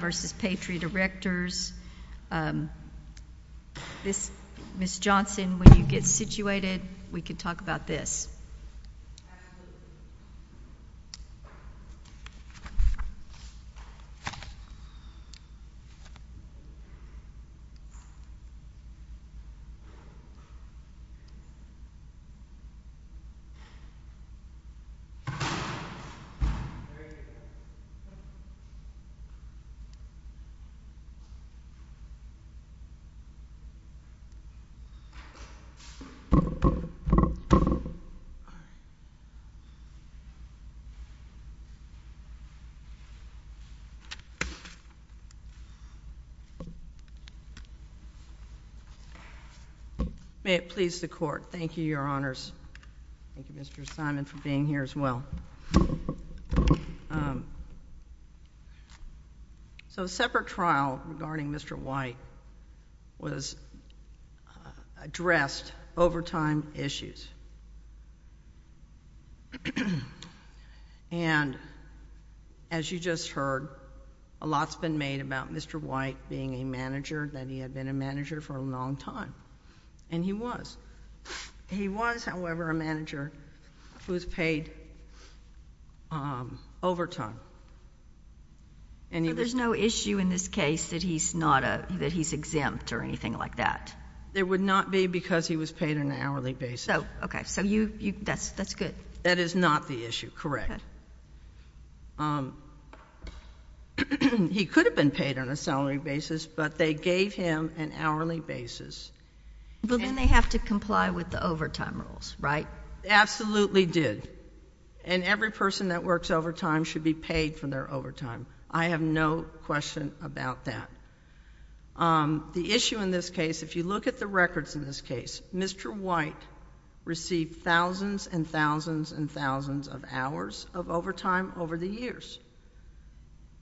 v. Patriot Erectors. Ms. Johnson, when you get situated, we can talk about this. May it please the Court, thank you, Your Honors. Thank you, Mr. Simon, for being here as well. So separate trial regarding Mr. White was addressed over time issues. And as you just heard, a lot's been made about Mr. White being a manager, that he had been a manager for a long time, and he was. He was, however, a manager who was paid overtime. So there's no issue in this case that he's exempt or anything like that? There would not be because he was paid on an hourly basis. Okay. So that's good. That is not the issue, correct. He could have been paid on a salary basis, but they gave him an hourly basis. But then they have to comply with the overtime rules, right? Absolutely did. And every person that works overtime should be paid for their overtime. I have no question about that. The issue in this case, if you look at the records in this case, Mr. White received thousands and thousands and thousands of hours of overtime over the years,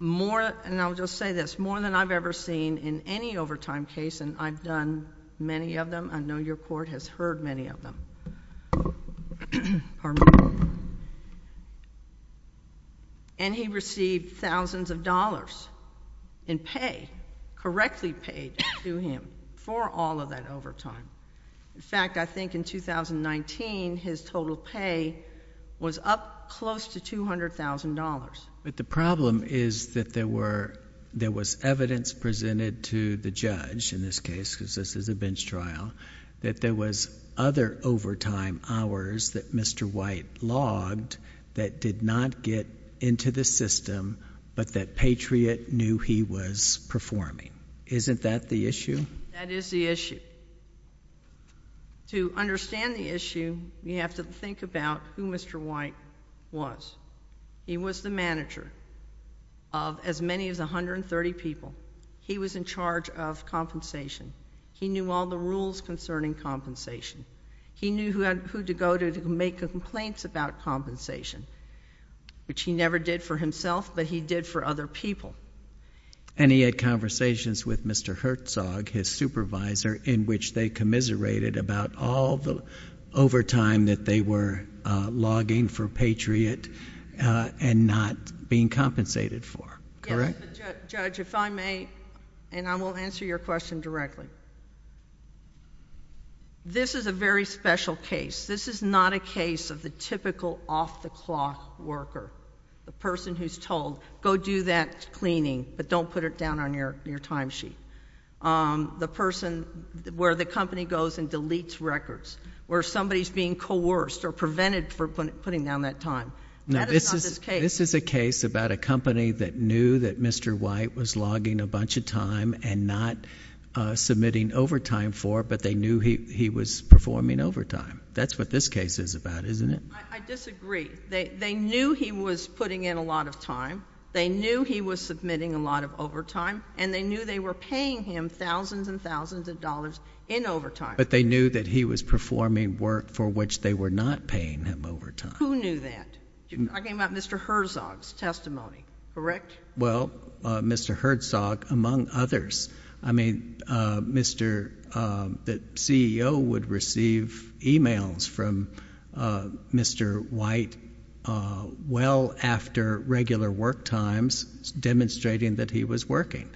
and I'll just say this, more than I've ever seen in any overtime case, and I've done many of them. I know your Court has heard many of them. And he received thousands of dollars in pay, correctly paid to him for all of that overtime. In fact, I think in 2019, his total pay was up close to $200,000. But the problem is that there was evidence presented to the judge in this case, because this is a bench trial, that there was other overtime hours that Mr. White logged that did not get into the system, but that Patriot knew he was performing. Isn't that the issue? That is the issue. To understand the issue, you have to think about who Mr. White was. He was the manager of as many as 130 people. He was in charge of compensation. He knew all the rules concerning compensation. He knew who to go to to make complaints about compensation, which he never did for himself, but he did for other people. And he had conversations with Mr. Herzog, his supervisor, in which they commiserated about all the overtime that they were logging for Patriot and not being compensated for, correct? Yes, Judge, if I may, and I will answer your question directly. This is a very special case. This is not a case of the typical off-the-clock worker, the person who's told, go do that cleaning, but don't put it down on your time sheet. The person where the company goes and deletes records, where somebody's being coerced or prevented from putting down that time. This is a case about a company that knew that Mr. White was logging a bunch of time and not submitting overtime for, but they knew he was performing overtime. That's what this case is about, isn't it? I disagree. They knew he was putting in a lot of time. They knew he was submitting a lot of overtime, and they knew they were paying him thousands and thousands of dollars in overtime. But they knew that he was performing work for which they were not paying him overtime. Who knew that? You're talking about Mr. Herzog's testimony, correct? Well, Mr. Herzog, among others. I mean, the CEO would receive emails from Mr. White well after regular work times demonstrating that he was working.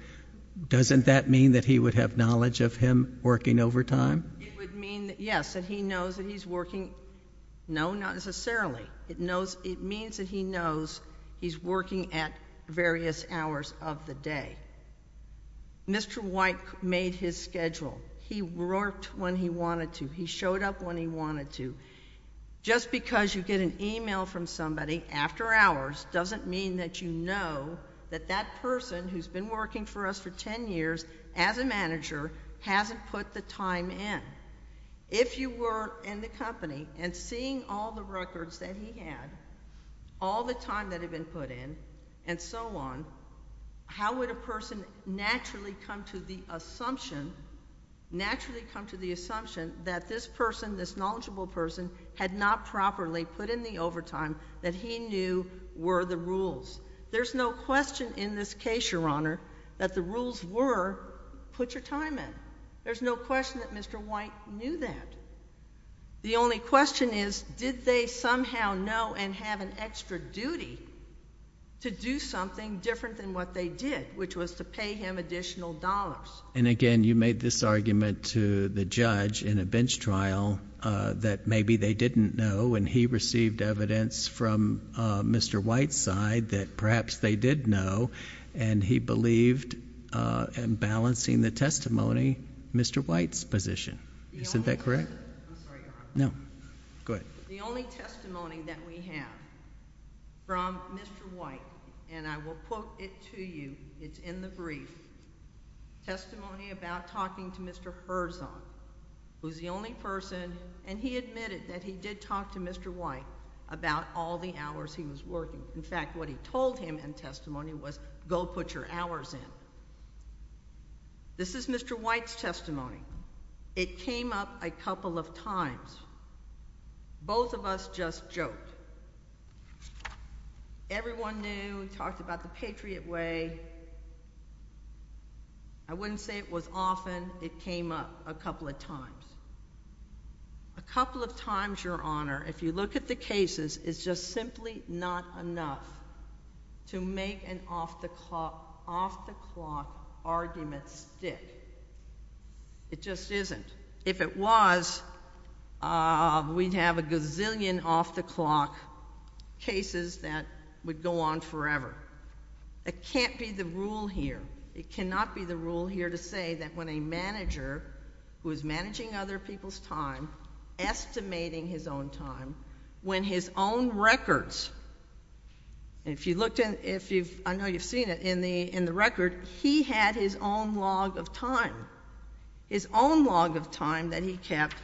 Doesn't that mean that he would have knowledge of him working overtime? It would mean, yes, that he knows that he's working. No, not necessarily. It means that he knows he's working at various hours of the day. Mr. White made his schedule. He worked when he wanted to. He showed up when he wanted to. Just because you get an email from somebody after hours doesn't mean that you know that that person who's been working for us for 10 years as a manager hasn't put the time in. If you were in the company and seeing all the records that he had, all the time that had been put in, and so on, how would a person naturally come to the assumption, naturally come to the assumption that this person, this knowledgeable person, had not properly put in the overtime that he knew were the rules? There's no question in this case, Your Honor, that the rules were put your time in. There's no question that Mr. White knew that. The only question is, did they somehow know and have an extra duty to do something different than what they did, which was to pay him additional dollars? And again, you made this argument to the judge in a bench trial that maybe they didn't know and he received evidence from Mr. White's side that perhaps they did know, and he believed in balancing the testimony, Mr. White's position. Is that correct? I'm sorry, Your Honor. No. Go ahead. The only testimony that we have from Mr. White, and I will quote it to you, it's in the brief, testimony about talking to Mr. Furzon, who's the only person, and he admitted that he did talk to Mr. White about all the hours he was working. In fact, what he told him in testimony was, go put your hours in. This is Mr. White's testimony. It came up a couple of times. Both of us just joked. Everyone knew, we talked about the Patriot Way. I wouldn't say it was often. It came up a couple of times. A couple of times, Your Honor, if you look at the cases, it's just simply not enough to make an off-the-clock argument stick. It just isn't. If it was, we'd have a gazillion off-the-clock cases that would go on forever. It can't be the rule here. It cannot be the rule here to say that when a manager who is managing other people's time, estimating his own time, when his own records, and if you looked in, I know you've seen it, in the record, he had his own log of time, his own log of time that he kept,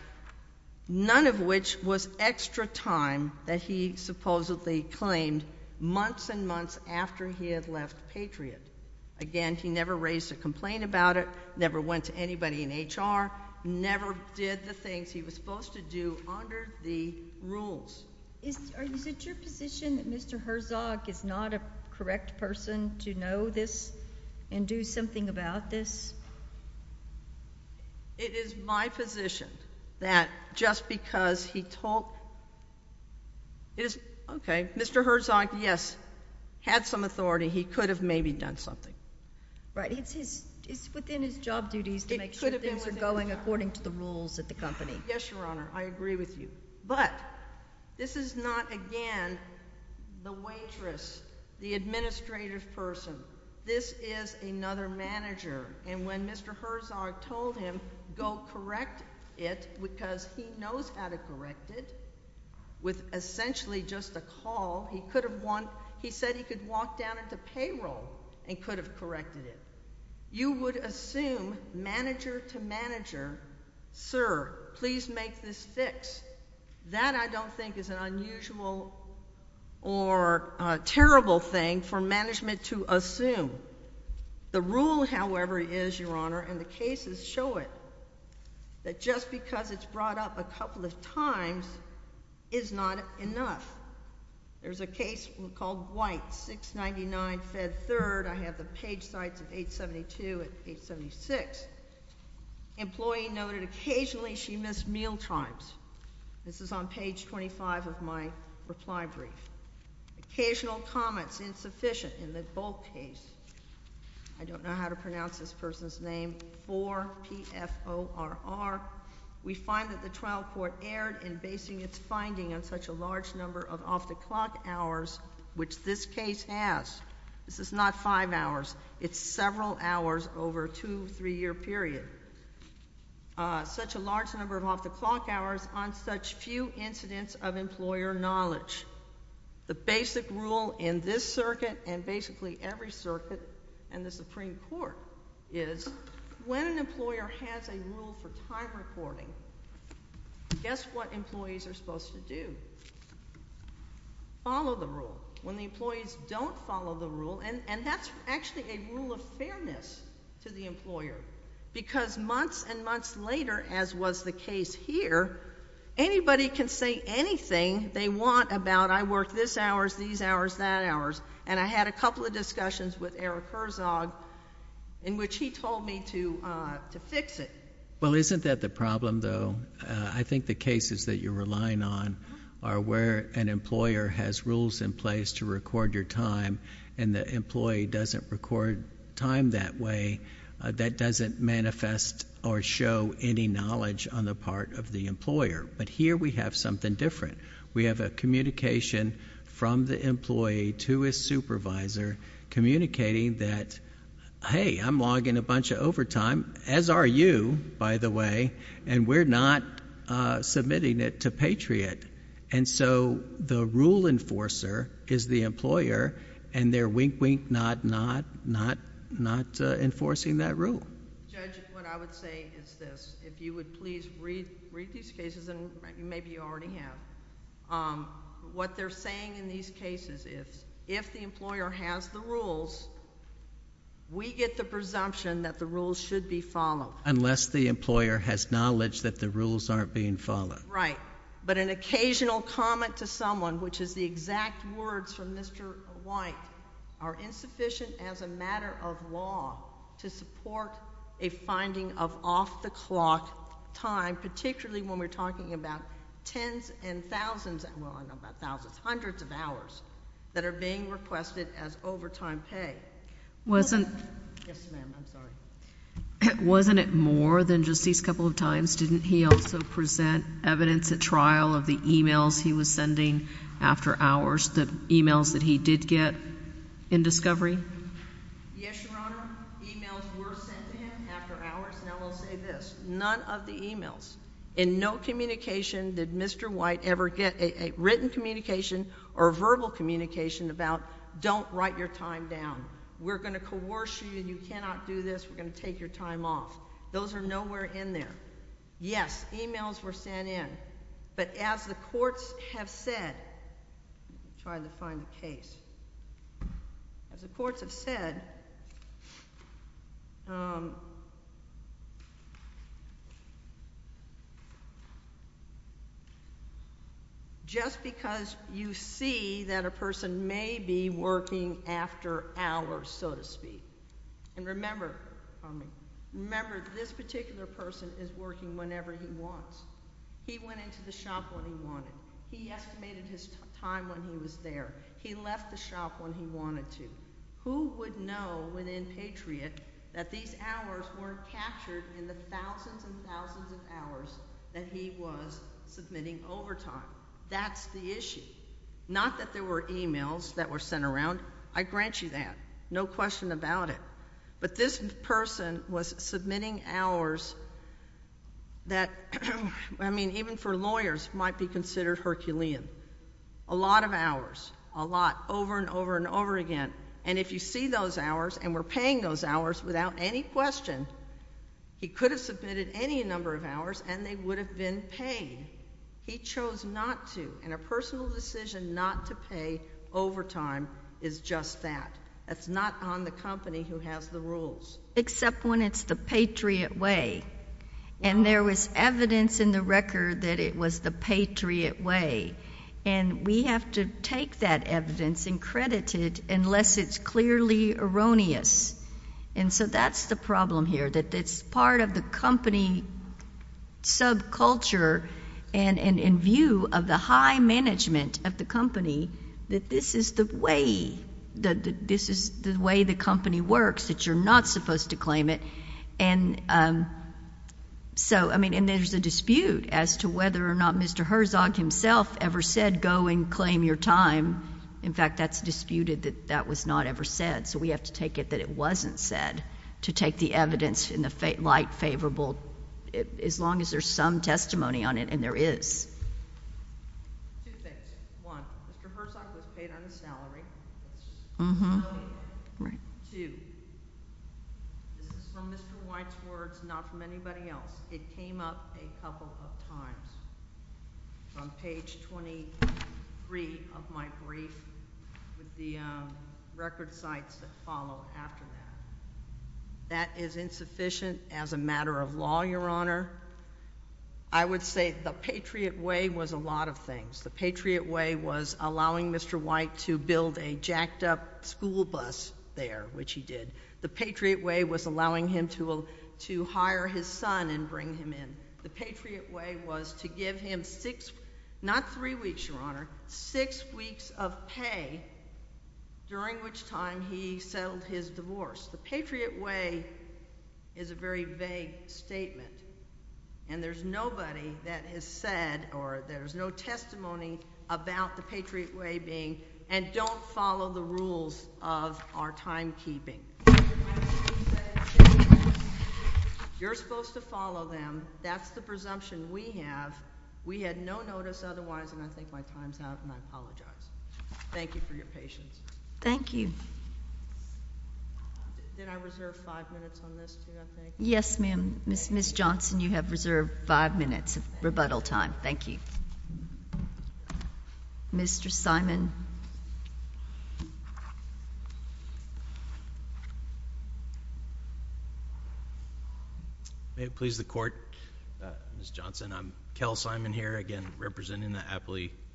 none of which was extra time that he supposedly claimed months and months after he had left Patriot. Again, he never raised a complaint about it, never went to anybody in HR, never did the things he was supposed to do under the rules. Is it your position that Mr. Herzog is not a correct person to know this and do something about this? It is my position that just because he talked, okay, Mr. Herzog, yes, had some authority, he could have maybe done something. Right. It's within his job duties to make sure things are going according to the rules at the company. Yes, Your Honor, I agree with you, but this is not, again, the waitress, the administrative person. This is another manager, and when Mr. Herzog told him, go correct it, because he knows how to correct it, with essentially just a call, he could have, he said he could walk down into payroll and could have corrected it. You would assume, manager to manager, sir, please make this fix. That, I don't think, is an unusual or terrible thing for management to assume. The rule, however, is, Your Honor, and the cases show it, that just because it's brought up a couple of times is not enough. There's a case called White, 699 Fed 3rd. I have the page sites of 872 and 876. Employee noted occasionally she missed meal times. This is on page 25 of my reply brief. Occasional comments insufficient in the bulk case. I don't know how to pronounce this person's name. 4PFORR. We find that the trial court erred in basing its finding on such a large number of off-the-clock hours, which this case has. This is not five hours. It's several hours over a two, three-year period. Such a large number of off-the-clock hours on such few incidents of employer knowledge. The basic rule in this circuit, and basically every circuit in the Supreme Court, is when an employer has a rule for time recording, guess what employees are supposed to do? Follow the rule. When the employees don't follow the rule, and that's actually a rule of fairness to the employer, because months and months later, as was the case here, anybody can say anything they want about, I work this hours, these hours, that hours, and I had a couple of discussions with Eric Herzog, in which he told me to fix it. Well, isn't that the problem, though? I think the cases that you're relying on are where an employer has rules in place to record your time, and the employee doesn't record time that way. That doesn't manifest or show any knowledge on the part of the employer, but here we have something different. We have a communication from the employee to his supervisor, communicating that, hey, I'm logging a bunch of overtime, as are you, by the way, and we're not submitting it to Patriot, and so the rule enforcer is the employer, and they're wink, wink, nod, nod, not enforcing that rule. Judge, what I would say is this. If you would please read these cases, and maybe you already have. What they're saying in these cases is, if the employer has the rules, we get the presumption that the rules should be followed. Unless the employer has knowledge that the rules aren't being followed. Right, but an occasional comment to someone, which is the exact words from Mr. White, are insufficient as a matter of law to support a finding of off-the-clock time, particularly when we're talking about tens and thousands, well, I don't know about thousands, hundreds of hours that are being requested as overtime pay. Wasn't it more than just these couple of times? Didn't he also present evidence at trial of the emails he was sending after hours, the emails that he did get in discovery? Yes, Your Honor. Emails were sent to him after hours. Now, I'll say this. None of the emails, in no communication did Mr. White ever get a written communication or verbal communication about don't write your time down. We're going to coerce you. You cannot do this. We're going to take your time off. Those are nowhere in there. Yes, emails were sent in, but as a courts have said, just because you see that a person may be working after hours, so to speak, and remember, this particular person is working whenever he wants. He went into the shop when he wanted. He estimated his time when he was there. He left the shop when he wanted to. Who would know, within Patriot, that these hours weren't captured in the thousands and thousands of hours that he was submitting overtime? That's the issue. Not that there were emails that were sent around. I grant you that. No question about it. But this person was submitting hours that, I mean, even for lawyers might be considered Herculean, a lot of hours, a lot, over and over and over again. And if you see those hours and were paying those hours without any question, he could have submitted any number of hours and they would have been paid. He chose not to, and a personal decision not to pay overtime is just that. That's not on the company who has the rules. Except when it's the Patriot way. And there was evidence in the record that it was the Patriot way. And we have to take that evidence and credit it unless it's clearly erroneous. And so that's the problem here, that it's part of the company subculture and in view of the high management of the company, that this is the way the company works, that you're not supposed to claim it. And so, I mean, and there's a dispute as to whether or not Mr. Herzog himself ever said, go and claim your time. In fact, that's disputed that that was not ever said. So we have to take it that it wasn't said to take the evidence in the case. Two things. One, Mr. Herzog was paid on a salary. Two, this is from Mr. White's words, not from anybody else. It came up a couple of times. It's on page 23 of my brief with the record sites that follow after that. That is insufficient as a matter of law, Your Honor. I would say the Patriot way was a lot of things. The Patriot way was allowing Mr. White to build a jacked up school bus there, which he did. The Patriot way was allowing him to hire his son and bring him in. The Patriot way was to give him six, not three weeks, Your Honor, six weeks of pay during which time he settled his divorce. The Patriot way is a very vague statement, and there's nobody that has said or there's no testimony about the Patriot way being, and don't follow the rules of our timekeeping. You're supposed to follow them. That's the presumption we have. We had no notice otherwise, and I think my time's up, and I apologize. Thank you for your patience. Thank you. Did I reserve five minutes on this, too, I think? Yes, ma'am. Ms. Johnson, you have reserved five minutes of rebuttal time. Thank you. Mr. Simon. May it please the Court, Ms. Johnson. I'm Kel Simon here, again, representing the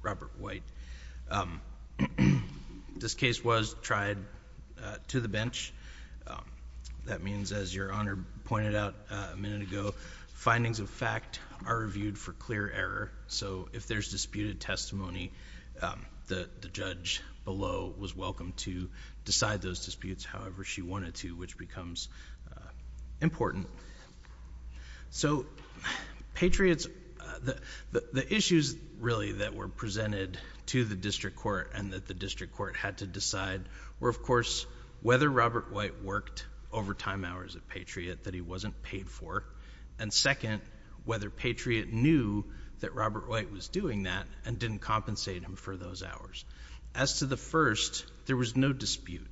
District Court. This case was tried to the bench. That means, as Your Honor pointed out a minute ago, findings of fact are reviewed for clear error, so if there's disputed testimony, the judge below was welcome to decide those disputes however she wanted to, which becomes important. Patriots... the issues, really, that were presented to the District Court and that the District Court had to decide were, of course, whether Robert White worked overtime hours at Patriot that he wasn't paid for, and second, whether Patriot knew that Robert White was doing that and didn't compensate him for those hours. As to the first, there was no dispute.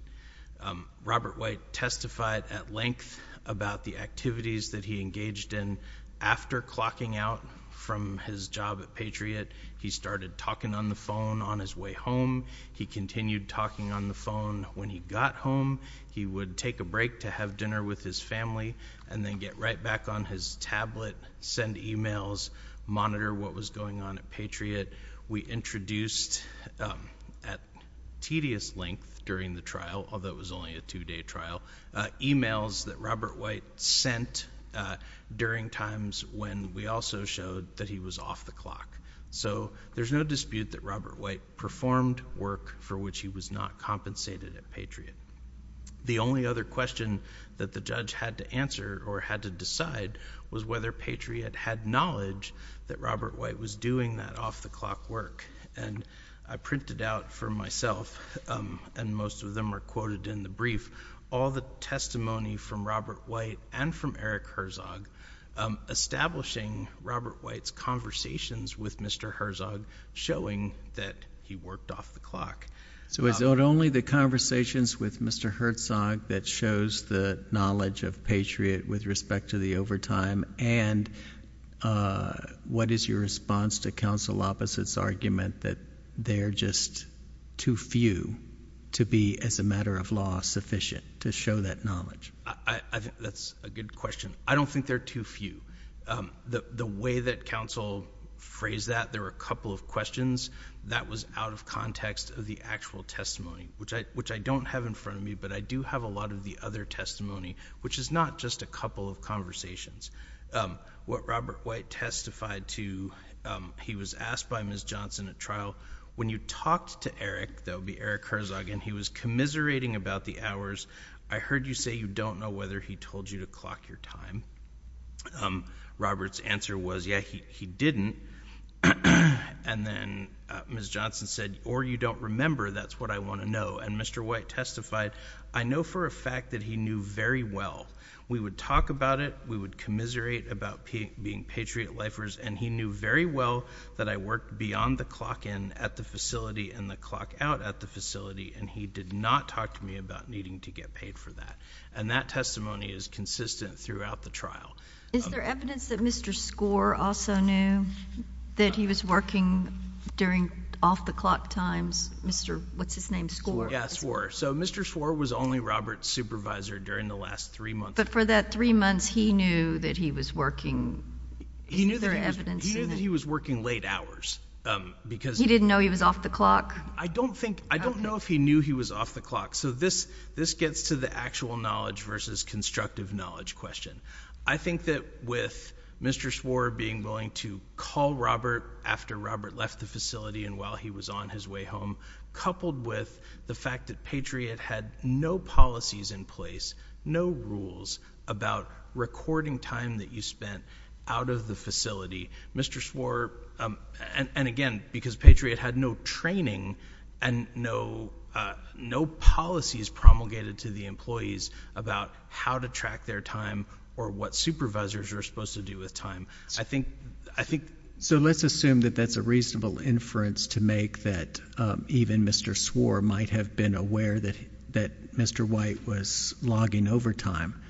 Robert White testified at length about the activities that he engaged in after clocking out from his job at Patriot. He started talking on the phone on his way home. He continued talking on the phone. When he got home, he would take a break to have dinner with his family, and then get right back on his tablet, send emails, monitor what was going on at Patriot. We introduced, at tedious length during the trial, although it was only a two-day trial, emails that Robert White sent during times when we also showed that he was off the clock. There's no dispute that Robert White performed work for which he was not compensated at Patriot. The only other question that the judge had to answer or had to decide was whether Patriot had knowledge that Robert White was doing that off-the-clock work. I printed out for myself, and most of them are quoted in the brief, all the testimony from Robert White and from Eric Herzog, establishing Robert White's conversations with Mr. Herzog showing that he worked off-the-clock. Is it only the conversations with Mr. Herzog that shows the knowledge of Patriot with respect to the overtime, and what is your response to counsel Lopez's argument that they're just too few to be, as a matter of law, sufficient to show that knowledge? I think that's a good question. I don't think they're too few. The way that counsel phrased that, there were a couple of questions. That was out of context of the actual testimony, which I don't have in front of me, but I do have a lot of the other testimony, which is not just a couple of conversations. What Robert White testified to, he was asked by Ms. Johnson at trial, when you talked to Eric, that would be Eric Herzog, and he was commiserating about the hours. I heard you say you don't know whether he told you to clock your time. Robert's answer was, yeah, he didn't. Then Ms. Johnson said, or you don't remember, that's what I want to know. Mr. White testified, I know for a fact that he knew very well. We would talk about it, we would commiserate about being Patriot lifers, and he knew very well that I worked beyond the clock in at the facility and the clock out at the facility, and he did not talk to me about needing to get paid for that. And that testimony is consistent throughout the trial. Is there evidence that Mr. Skor also knew that he was working during off-the-clock times? What's his name, Skor? Yeah, Skor. So Mr. Skor was only Robert's supervisor during the last three months. But for that three months, he knew that he was working. Is there evidence in that? He knew that he was working late hours, because He didn't know he was off-the-clock? I don't know if he knew he was off-the-clock. So this gets to the actual knowledge versus constructive knowledge question. I think that with Mr. Skor being willing to call Robert after Robert left the facility and while he was on his way home, coupled with the fact that Patriot had no policies in place, no rules about recording time that you spent out of the facility, Mr. Skor, and again, because Patriot had no training and no policies promulgated to the employees about how to track their time or what supervisors are supposed to do with time. So let's assume that that's a reasonable inference to make that even Mr. Skor might have been aware that Mr. White was logging overtime.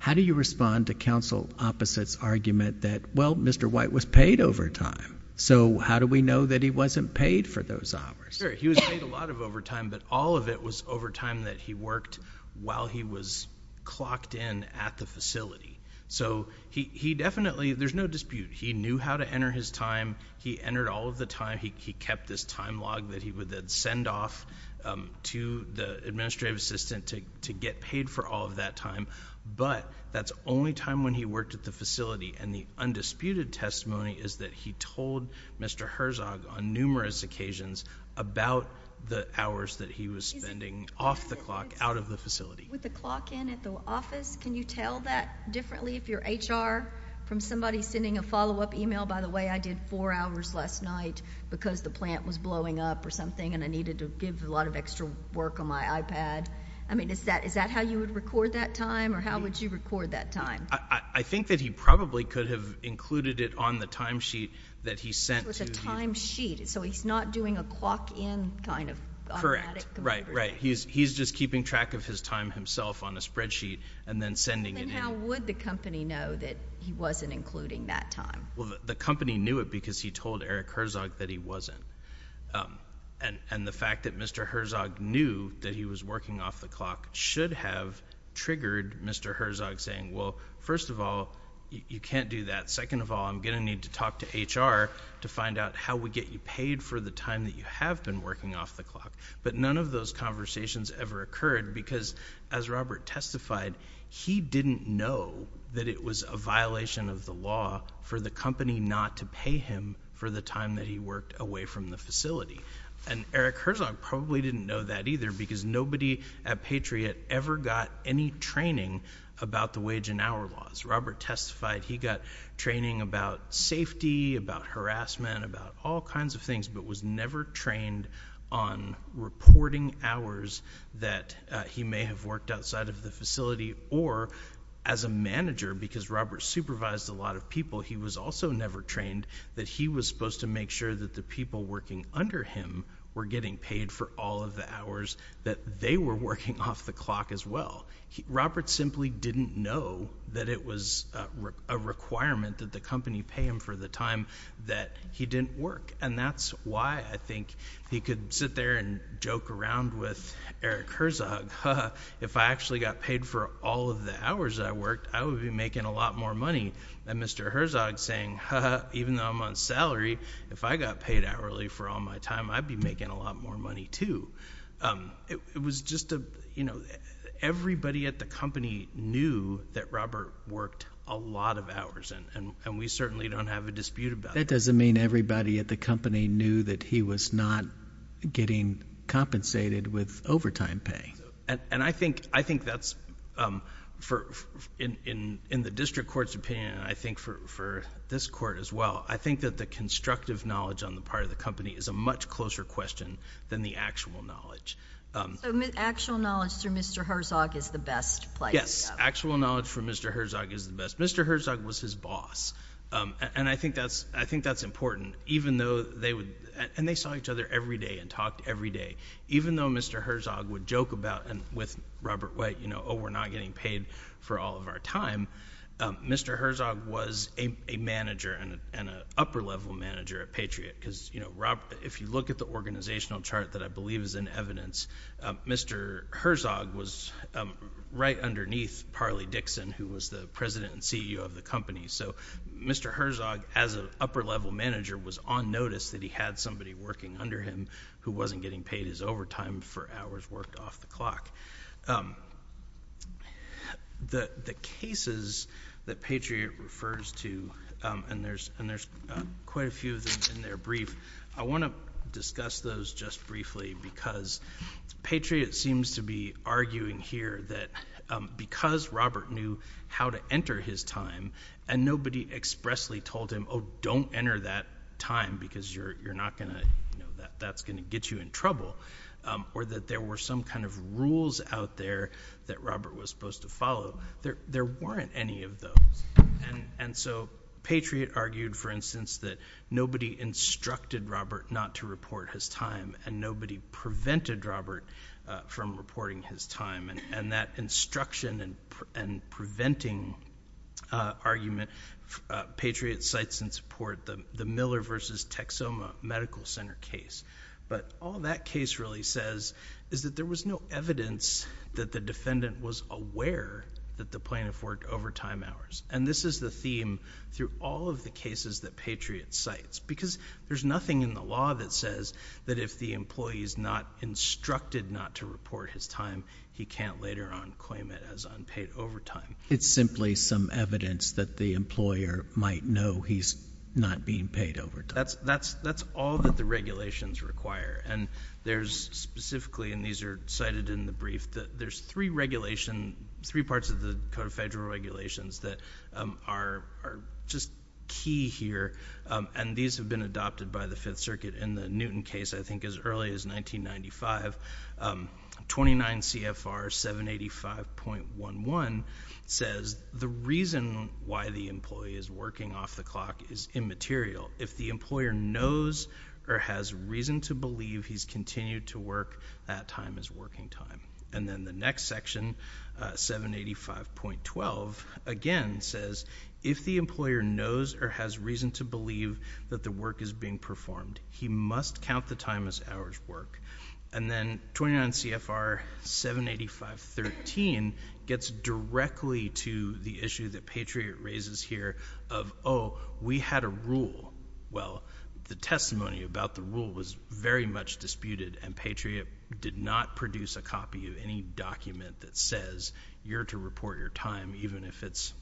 How do you respond to counsel opposite's argument that, well, Mr. White was paid overtime. So how do we know that he wasn't paid for those hours? Sure. He was paid a lot of overtime, but all of it was overtime that he worked while he was clocked in at the facility. So he definitely, there's no dispute, he knew how to enter his shift off to the administrative assistant to get paid for all of that time, but that's only time when he worked at the facility, and the undisputed testimony is that he told Mr. Herzog on numerous occasions about the hours that he was spending off the clock out of the facility. With the clock in at the office, can you tell that differently if you're HR from somebody sending a follow-up email, by the way, I did four hours last night because the plant was closed, and I had to give a lot of extra work on my iPad. I mean, is that how you would record that time, or how would you record that time? I think that he probably could have included it on the time sheet that he sent to the... So it's a time sheet. So he's not doing a clock in kind of automatic... Correct. Right, right. He's just keeping track of his time himself on a spreadsheet, and then sending it in. Then how would the company know that he wasn't including that time? The company knew it because he told Eric Herzog that he wasn't. And the fact that Mr. Herzog knew that he was working off the clock should have triggered Mr. Herzog saying, well, first of all, you can't do that. Second of all, I'm going to need to talk to HR to find out how we get you paid for the time that you have been working off the clock. But none of those conversations ever occurred because, as Robert testified, he didn't know that it was a violation of the law for the company not to pay him for the time that he worked away from the facility. And Eric Herzog probably didn't know that either because nobody at Patriot ever got any training about the wage and hour laws. Robert testified he got training about safety, about harassment, about all kinds of things, but was never trained on Because Robert supervised a lot of people, he was also never trained that he was supposed to make sure that the people working under him were getting paid for all of the hours that they were working off the clock as well. Robert simply didn't know that it was a requirement that the company pay him for the time that he didn't work. And that's why I think he could sit there and joke around with Eric Herzog. If I actually got paid for all of the hours that I worked, I would be making a lot more money than Mr. Herzog saying, ha ha, even though I'm on salary, if I got paid hourly for all my time, I'd be making a lot more money too. It was just a, you know, everybody at the company knew that Robert worked a lot of hours, and we certainly don't have a dispute about that. That doesn't mean everybody at the company knew that he was not getting compensated with In the district court's opinion, and I think for this court as well, I think that the constructive knowledge on the part of the company is a much closer question than the actual knowledge. Actual knowledge through Mr. Herzog is the best place to go. Yes, actual knowledge through Mr. Herzog is the best. Mr. Herzog was his boss, and I think that's important, even though they would, and they saw each other every day and talked every day. Even though Mr. Herzog would joke about, with Robert White, you know, oh, we're not getting paid for all of our time, Mr. Herzog was a manager and an upper-level manager at Patriot, because, you know, if you look at the organizational chart that I believe is in evidence, Mr. Herzog was right underneath Parley Dixon, who was the president and CEO of the company, so Mr. Herzog, as an upper-level manager, was on notice that he had somebody working under him who wasn't getting paid his overtime for hours worked off the clock. The cases that Patriot refers to, and there's quite a few of them in their brief, I want to discuss those just briefly, because Patriot seems to be arguing here that because Robert knew how to enter his time, and nobody expressly told him, oh, don't enter that time, because you're not going to, you know, that's going to get you in trouble, or that there were some kind of rules out there that Robert was supposed to follow. There weren't any of those, and so Patriot argued, for instance, that nobody instructed Robert not to report his time, and nobody prevented Robert from reporting his time, and that instruction and preventing him from reporting his time, and so that's the main argument Patriot cites in support of the Miller v. Texoma Medical Center case, but all that case really says is that there was no evidence that the defendant was aware that the plaintiff worked overtime hours, and this is the theme through all of the cases that Patriot cites, because there's nothing in the law that says that if the employee is not instructed not to report his time, he can't later on claim it as unpaid overtime. It's simply some evidence that the employer might know he's not being paid overtime. That's all that the regulations require, and there's specifically, and these are cited in the brief, that there's three regulation, three parts of the Code of Federal Regulations that are just key here, and these have been adopted by the Fifth Circuit in the Newton case, I think, as early as 1995. 29 CFR 785.11 says the reason why the employee is working off the clock is immaterial. If the employer knows or has reason to believe he's continued to work, that time is working time, and then the next section, 785.12, again says if the employer knows or has reason to believe that the work is being performed, he must count the time as hours work, and then 29 CFR 785.13 gets directly to the issue that Patriot raises here of, oh, we had a rule. Well, the testimony about the rule was very much disputed, and Patriot did not produce a copy of any document that says you're to report your time, even if it's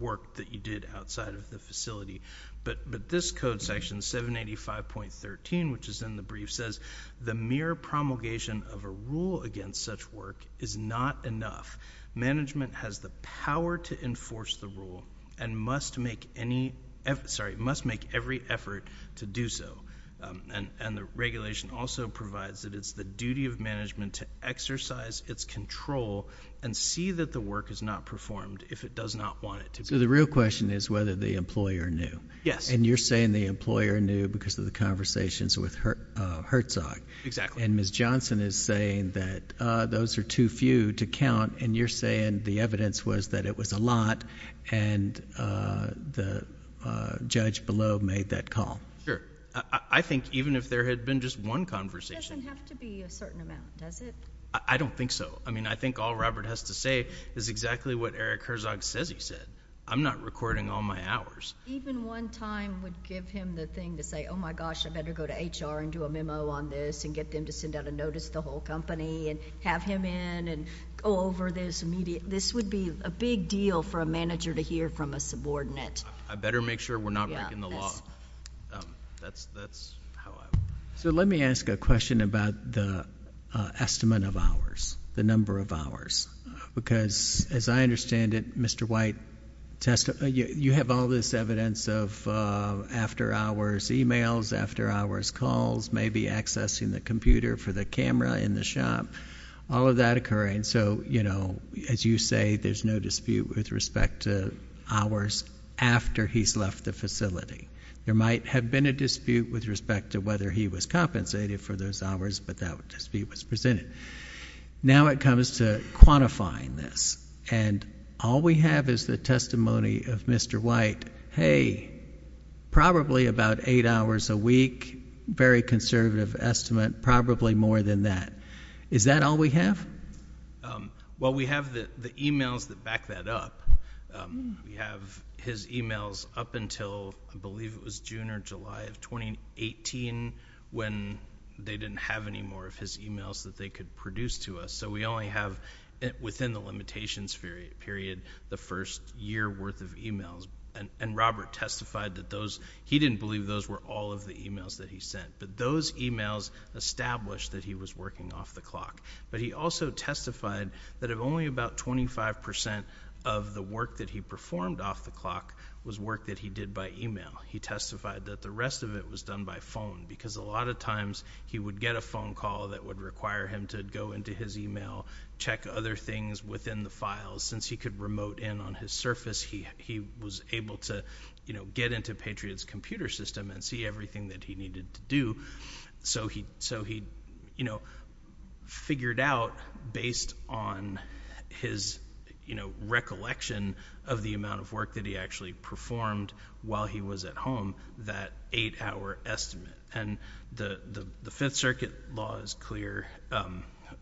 work that you did outside of the facility, but this code section, 785.13, which is in the brief, says the mere promulgation of a rule against such work is not enough. Management has the power to enforce the rule and must make any—sorry, must make every effort to do so, and the regulation also provides that it's the duty of management to exercise its control and see that the work is not performed if it does not want it to be performed. So the real question is whether the employer knew. Yes. And you're saying the employer knew because of the conversations with Herzog. Exactly. And Ms. Johnson is saying that those are too few to count, and you're saying the evidence was that it was a lot, and the judge below made that call. Sure. I think even if there had been just one conversation... It doesn't have to be a certain amount, does it? I don't think so. I mean, I think all Robert has to say is exactly what Eric Herzog says he said. I'm not recording all my hours. Even one time would give him the thing to say, oh, my gosh, I better go to HR and do a memo on this and get them to send out a notice to the whole company and have him in and go over this immediate—this would be a big deal for a manager to hear from a subordinate. I better make sure we're not breaking the law. That's how I would... So let me ask a question about the estimate of hours, the number of hours, because as I understand it, Mr. White, you have all this evidence of after-hours emails, after-hours calls, maybe accessing the computer for the camera in the shop, all of that occurring. So as you say, there's no dispute with respect to hours after he's left the facility. There might have been a dispute with respect to whether he was compensated for those hours, but that dispute was presented. Now it comes to quantifying this, and all we have is the testimony of Mr. White, hey, probably about eight hours a week, very conservative estimate, probably more than that. Is that all we have? Well, we have the emails that back that up. We have his emails up until I believe it was June or July of 2018 when they didn't have any more of his emails that they could produce to us. So we only have, within the limitations period, the first year worth of emails, and Robert testified that those—he didn't believe those were all of the emails that he sent, but those emails established that he was working off the clock. But he also testified that only about 25 percent of the work that he performed off the clock was work that he did by email. He testified that the rest of it was done by phone, because a lot of times he would get a phone call that would require him to go into his email, check other things within the files. Since he could remote in on his Surface, he was able to get into Patriot's computer system and see everything that he needed to do. So he figured out, based on his recollection of the amount of work that he actually performed while he was at home, that eight-hour estimate. And the Fifth Circuit law is clear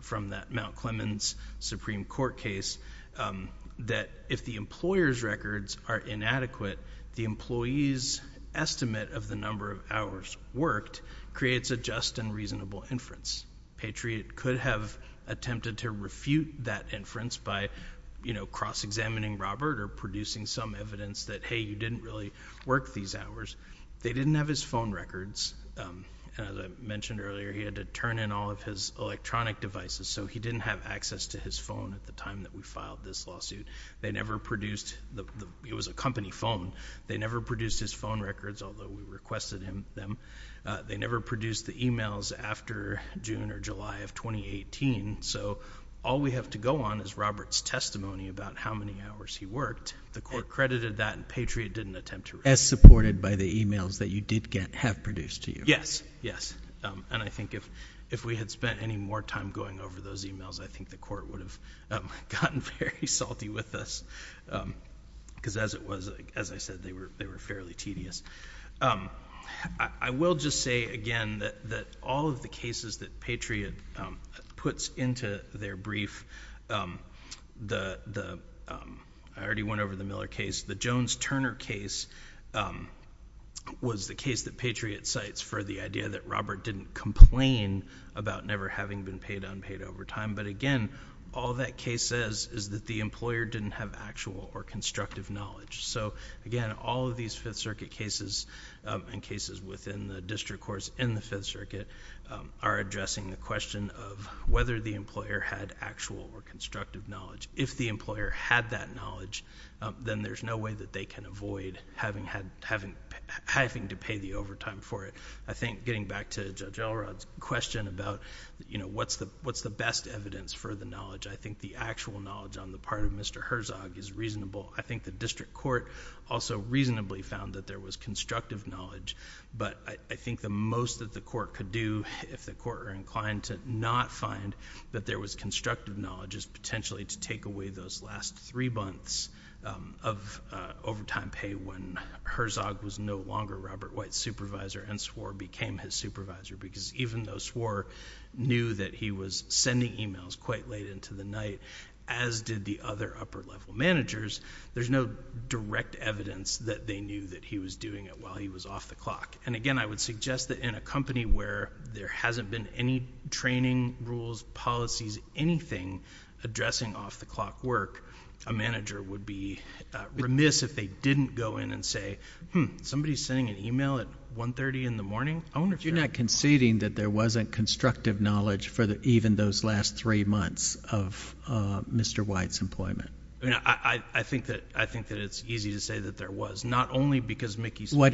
from that Mount Clemens Supreme Court case that if the employer's records are inadequate, the employee's estimate of the number of hours worked creates a just and reasonable inference. Patriot could have attempted to refute that inference by, you know, cross-examining Robert or producing some evidence that, hey, you didn't really work these hours. They didn't have his phone records. As I mentioned earlier, he had to turn in all of his electronic devices, so he didn't have access to his phone at the time that we filed this lawsuit. They never produced—it was a company phone. They never produced his phone records, although we requested them. They never produced the emails after June or July of 2018. So all we have to go on is Robert's testimony about how many hours he worked. The Court credited that, and Patriot didn't attempt to refute it. As supported by the emails that you did have produced to you. Yes, yes. And I think if we had spent any more time going over those emails, I think the Court would have gotten very salty with us, because as it was, as I said, they were fairly tedious. I will just say again that all of the cases that Patriot puts into their brief, the—I already went over the Miller case. The Jones-Turner case was the case that Patriot cites for the idea that Robert didn't complain about never having been paid unpaid overtime. But again, all that case says is that the employer didn't have actual or constructive knowledge. So again, all of these Fifth Circuit cases and cases within the district courts in the Fifth Circuit are addressing the question of whether the employer had actual or constructive knowledge. If the employer had that knowledge, then there's no way that they can avoid having to pay the overtime for it. I think getting back to Judge Elrod's question about what's the best evidence for the knowledge, I think the actual knowledge on the part of Mr. Herzog is reasonable. I think the district court also reasonably found that there was constructive knowledge, but I think the most that the court could do, if the court are inclined to not find that there was constructive knowledge, is potentially to take away those last three months of overtime pay when Herzog was no longer Robert White's supervisor and Swore became his supervisor, because even though Swore knew that he was sending emails quite late into the night, as did the other upper level managers, there's no direct evidence that they knew that he was doing it while he was off the clock. And again, I would suggest that in a company where there hasn't been any training rules, policies, anything addressing off-the-clock work, a manager would be remiss if they didn't go in and say, hmm, somebody's sending an email at 1.30 in the morning. I wonder if you're not conceding that there wasn't constructive knowledge for even those last three months of Mr. White's employment. I mean, I think that it's easy to say that there was. Not only because Mickey Swore—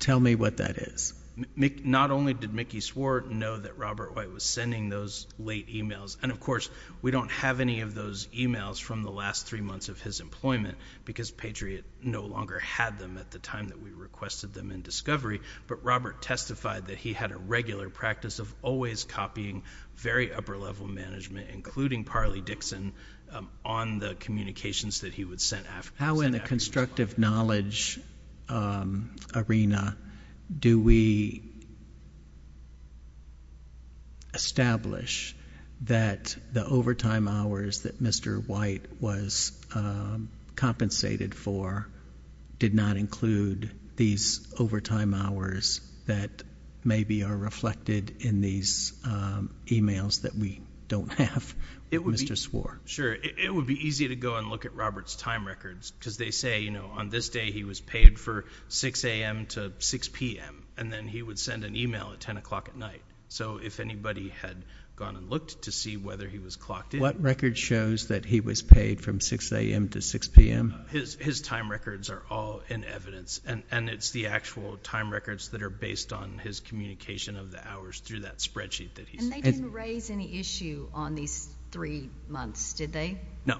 Tell me what that is. Not only did Mickey Swore know that Robert White was sending those late emails, and of course, we don't have any of those emails from the last three months of his employment because Patriot no longer had them at the time that we requested them in discovery, but Robert testified that he had a regular practice of always copying very upper level management, including Parley Dixon, on the communications that he would send. How in the constructive knowledge arena do we establish that the overtime hours that maybe are reflected in these emails that we don't have, Mr. Swore? Sure. It would be easy to go and look at Robert's time records because they say, you know, on this day he was paid for 6 a.m. to 6 p.m., and then he would send an email at 10 o'clock at night. So if anybody had gone and looked to see whether he was clocked in— What record shows that he was paid from 6 a.m. to 6 p.m.? His time records are all in evidence, and it's the actual time records that are based on his communication of the hours through that spreadsheet that he's— And they didn't raise any issue on these three months, did they? No,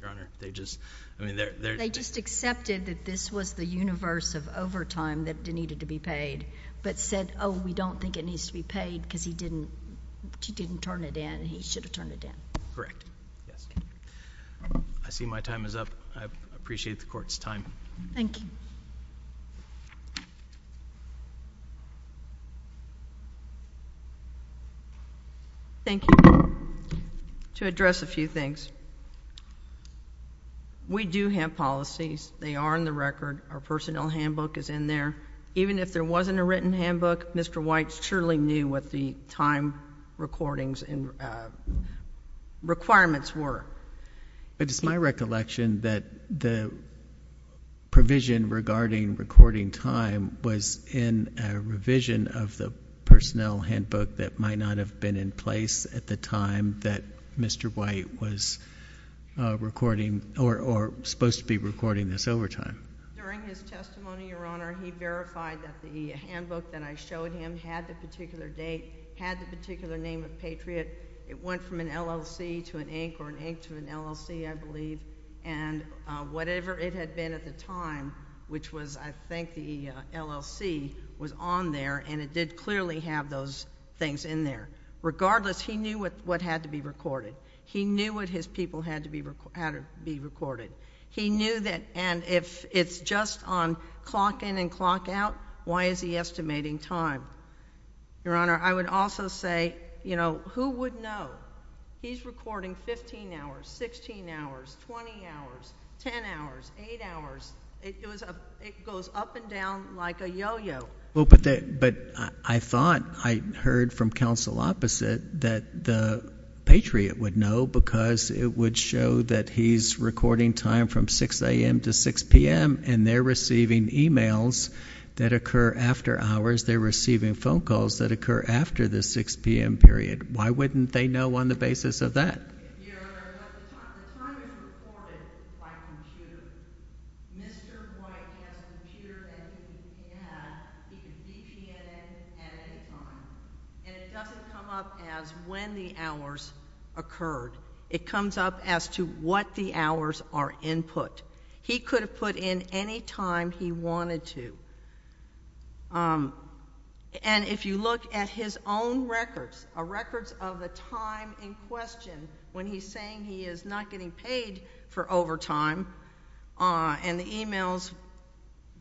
Your Honor. They just—I mean, they're— They just accepted that this was the universe of overtime that needed to be paid, but said, oh, we don't think it needs to be paid because he didn't turn it in, and he should have turned it in. Correct. Yes. I see my time is up. I appreciate the Court's time. Thank you. Thank you. To address a few things. We do have policies. They are in the record. Our personnel handbook is in there. Even if there wasn't a written handbook, Mr. White surely knew what the time recordings and requirements were. But it's my recollection that the provision regarding recording time was in a revision of the personnel handbook that might not have been in place at the time that Mr. White was recording or supposed to be recording this overtime. During his testimony, Your Honor, he verified that the handbook that I showed him had the particular name of Patriot. It went from an LLC to an Inc. or an Inc. to an LLC, I believe, and whatever it had been at the time, which was, I think, the LLC, was on there, and it did clearly have those things in there. Regardless, he knew what had to be recorded. He knew what his people had to be recorded. He knew that—and if it's just on clock in and clock out, why is he estimating time? Your Honor, I would also say, you know, who would know? He's recording 15 hours, 16 hours, 20 hours, 10 hours, 8 hours. It goes up and down like a yo-yo. Well, but I thought—I heard from counsel opposite that the Patriot would know because it would show that he's recording time from 6 a.m. to 6 p.m., and they're receiving emails that occur after hours. They're receiving phone calls that occur after the 6 p.m. period. Why wouldn't they know on the basis of that? Your Honor, but the time is recorded by computer. Mr. White has a computer that he has. He can see PNN at any time, and it doesn't come up as when the hours occurred. It comes up as to what the hours are input. He could have put in any time he wanted to. And if you look at his own records, records of the time in question when he's saying he is not getting paid for overtime, and the emails,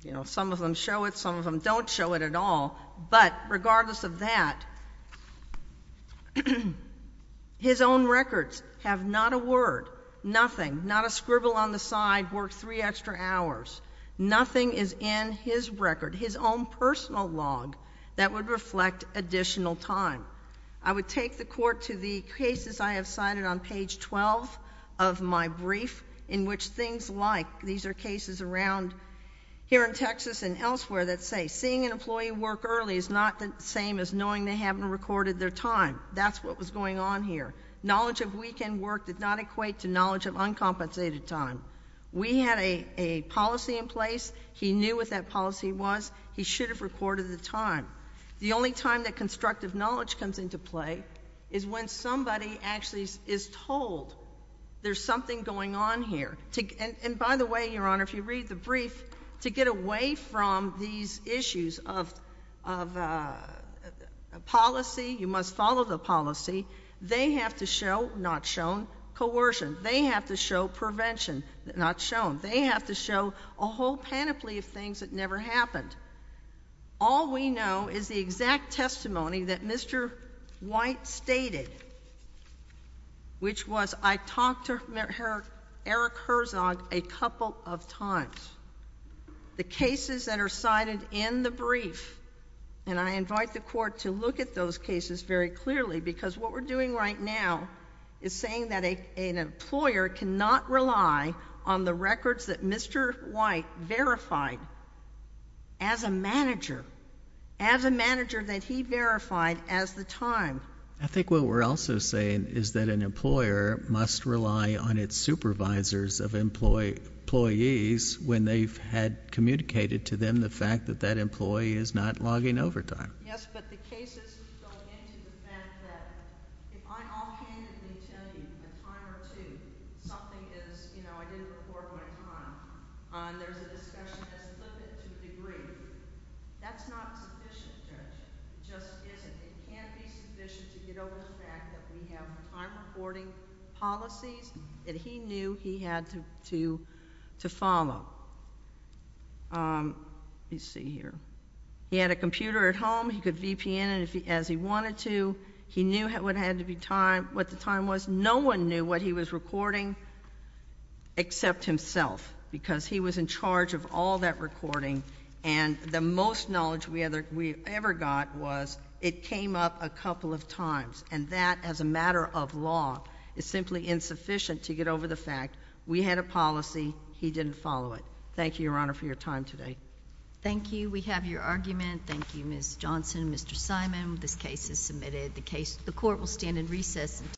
you know, some of them show it, some of them don't show it at all, but regardless of that, his own records have not a word, nothing, not a scribble on the side, work three extra hours. Nothing is in his record, his own personal log that would reflect additional time. I would take the Court to the cases I have cited on page 12 of my brief in which things like, these are cases around here in Texas and elsewhere that say seeing an employee work early is not the same as knowing they haven't recorded their time. That's what was going on here. Knowledge of weekend work did not equate to knowledge of uncompensated time. We had a policy in place. He knew what that policy was. He should have recorded the time. The only time that constructive knowledge comes into play is when somebody actually is told there's something going on here. And by the way, Your Honor, if you read the brief, to get away from these issues of policy, you must follow the policy, they have to show, not shown, coercion. They have to show prevention, not shown. They have to show a whole panoply of things that never happened. All we know is the exact testimony that Mr. White stated, which was I talked to Eric Herzog a couple of times. The cases that are cited in the brief, and I invite the Court to look at those cases very clearly because what we're doing right now is saying that an employer cannot rely on the records that Mr. White verified as a manager, as a manager that he verified as the time. I think what we're also saying is that an employer must rely on its supervisors of employees when they've had communicated to them the fact that that employee is not logging overtime. Yes, but the cases go into the fact that if I'm off-handedly telling you at time or two something is, you know, I didn't record my time, and there's a discussion that's limited to the degree, that's not sufficient, Judge. It just isn't. It can't be sufficient to get over the fact that we have time-reporting policies that he knew he had to follow. Let's see here. He had a computer at home. He could VPN as he wanted to. He knew what the time was. No one knew what he was recording except himself because he was in charge of all that recording, and the most knowledge we ever got was it came up a couple of times, and that as a matter of law, it's simply insufficient to get over the fact we had a policy, he didn't follow it. Thank you, Your Honor, for your time today. Thank you. We have your argument. Thank you, Ms. Johnson. Mr. Simon, this case is submitted. The court will stand in recess until—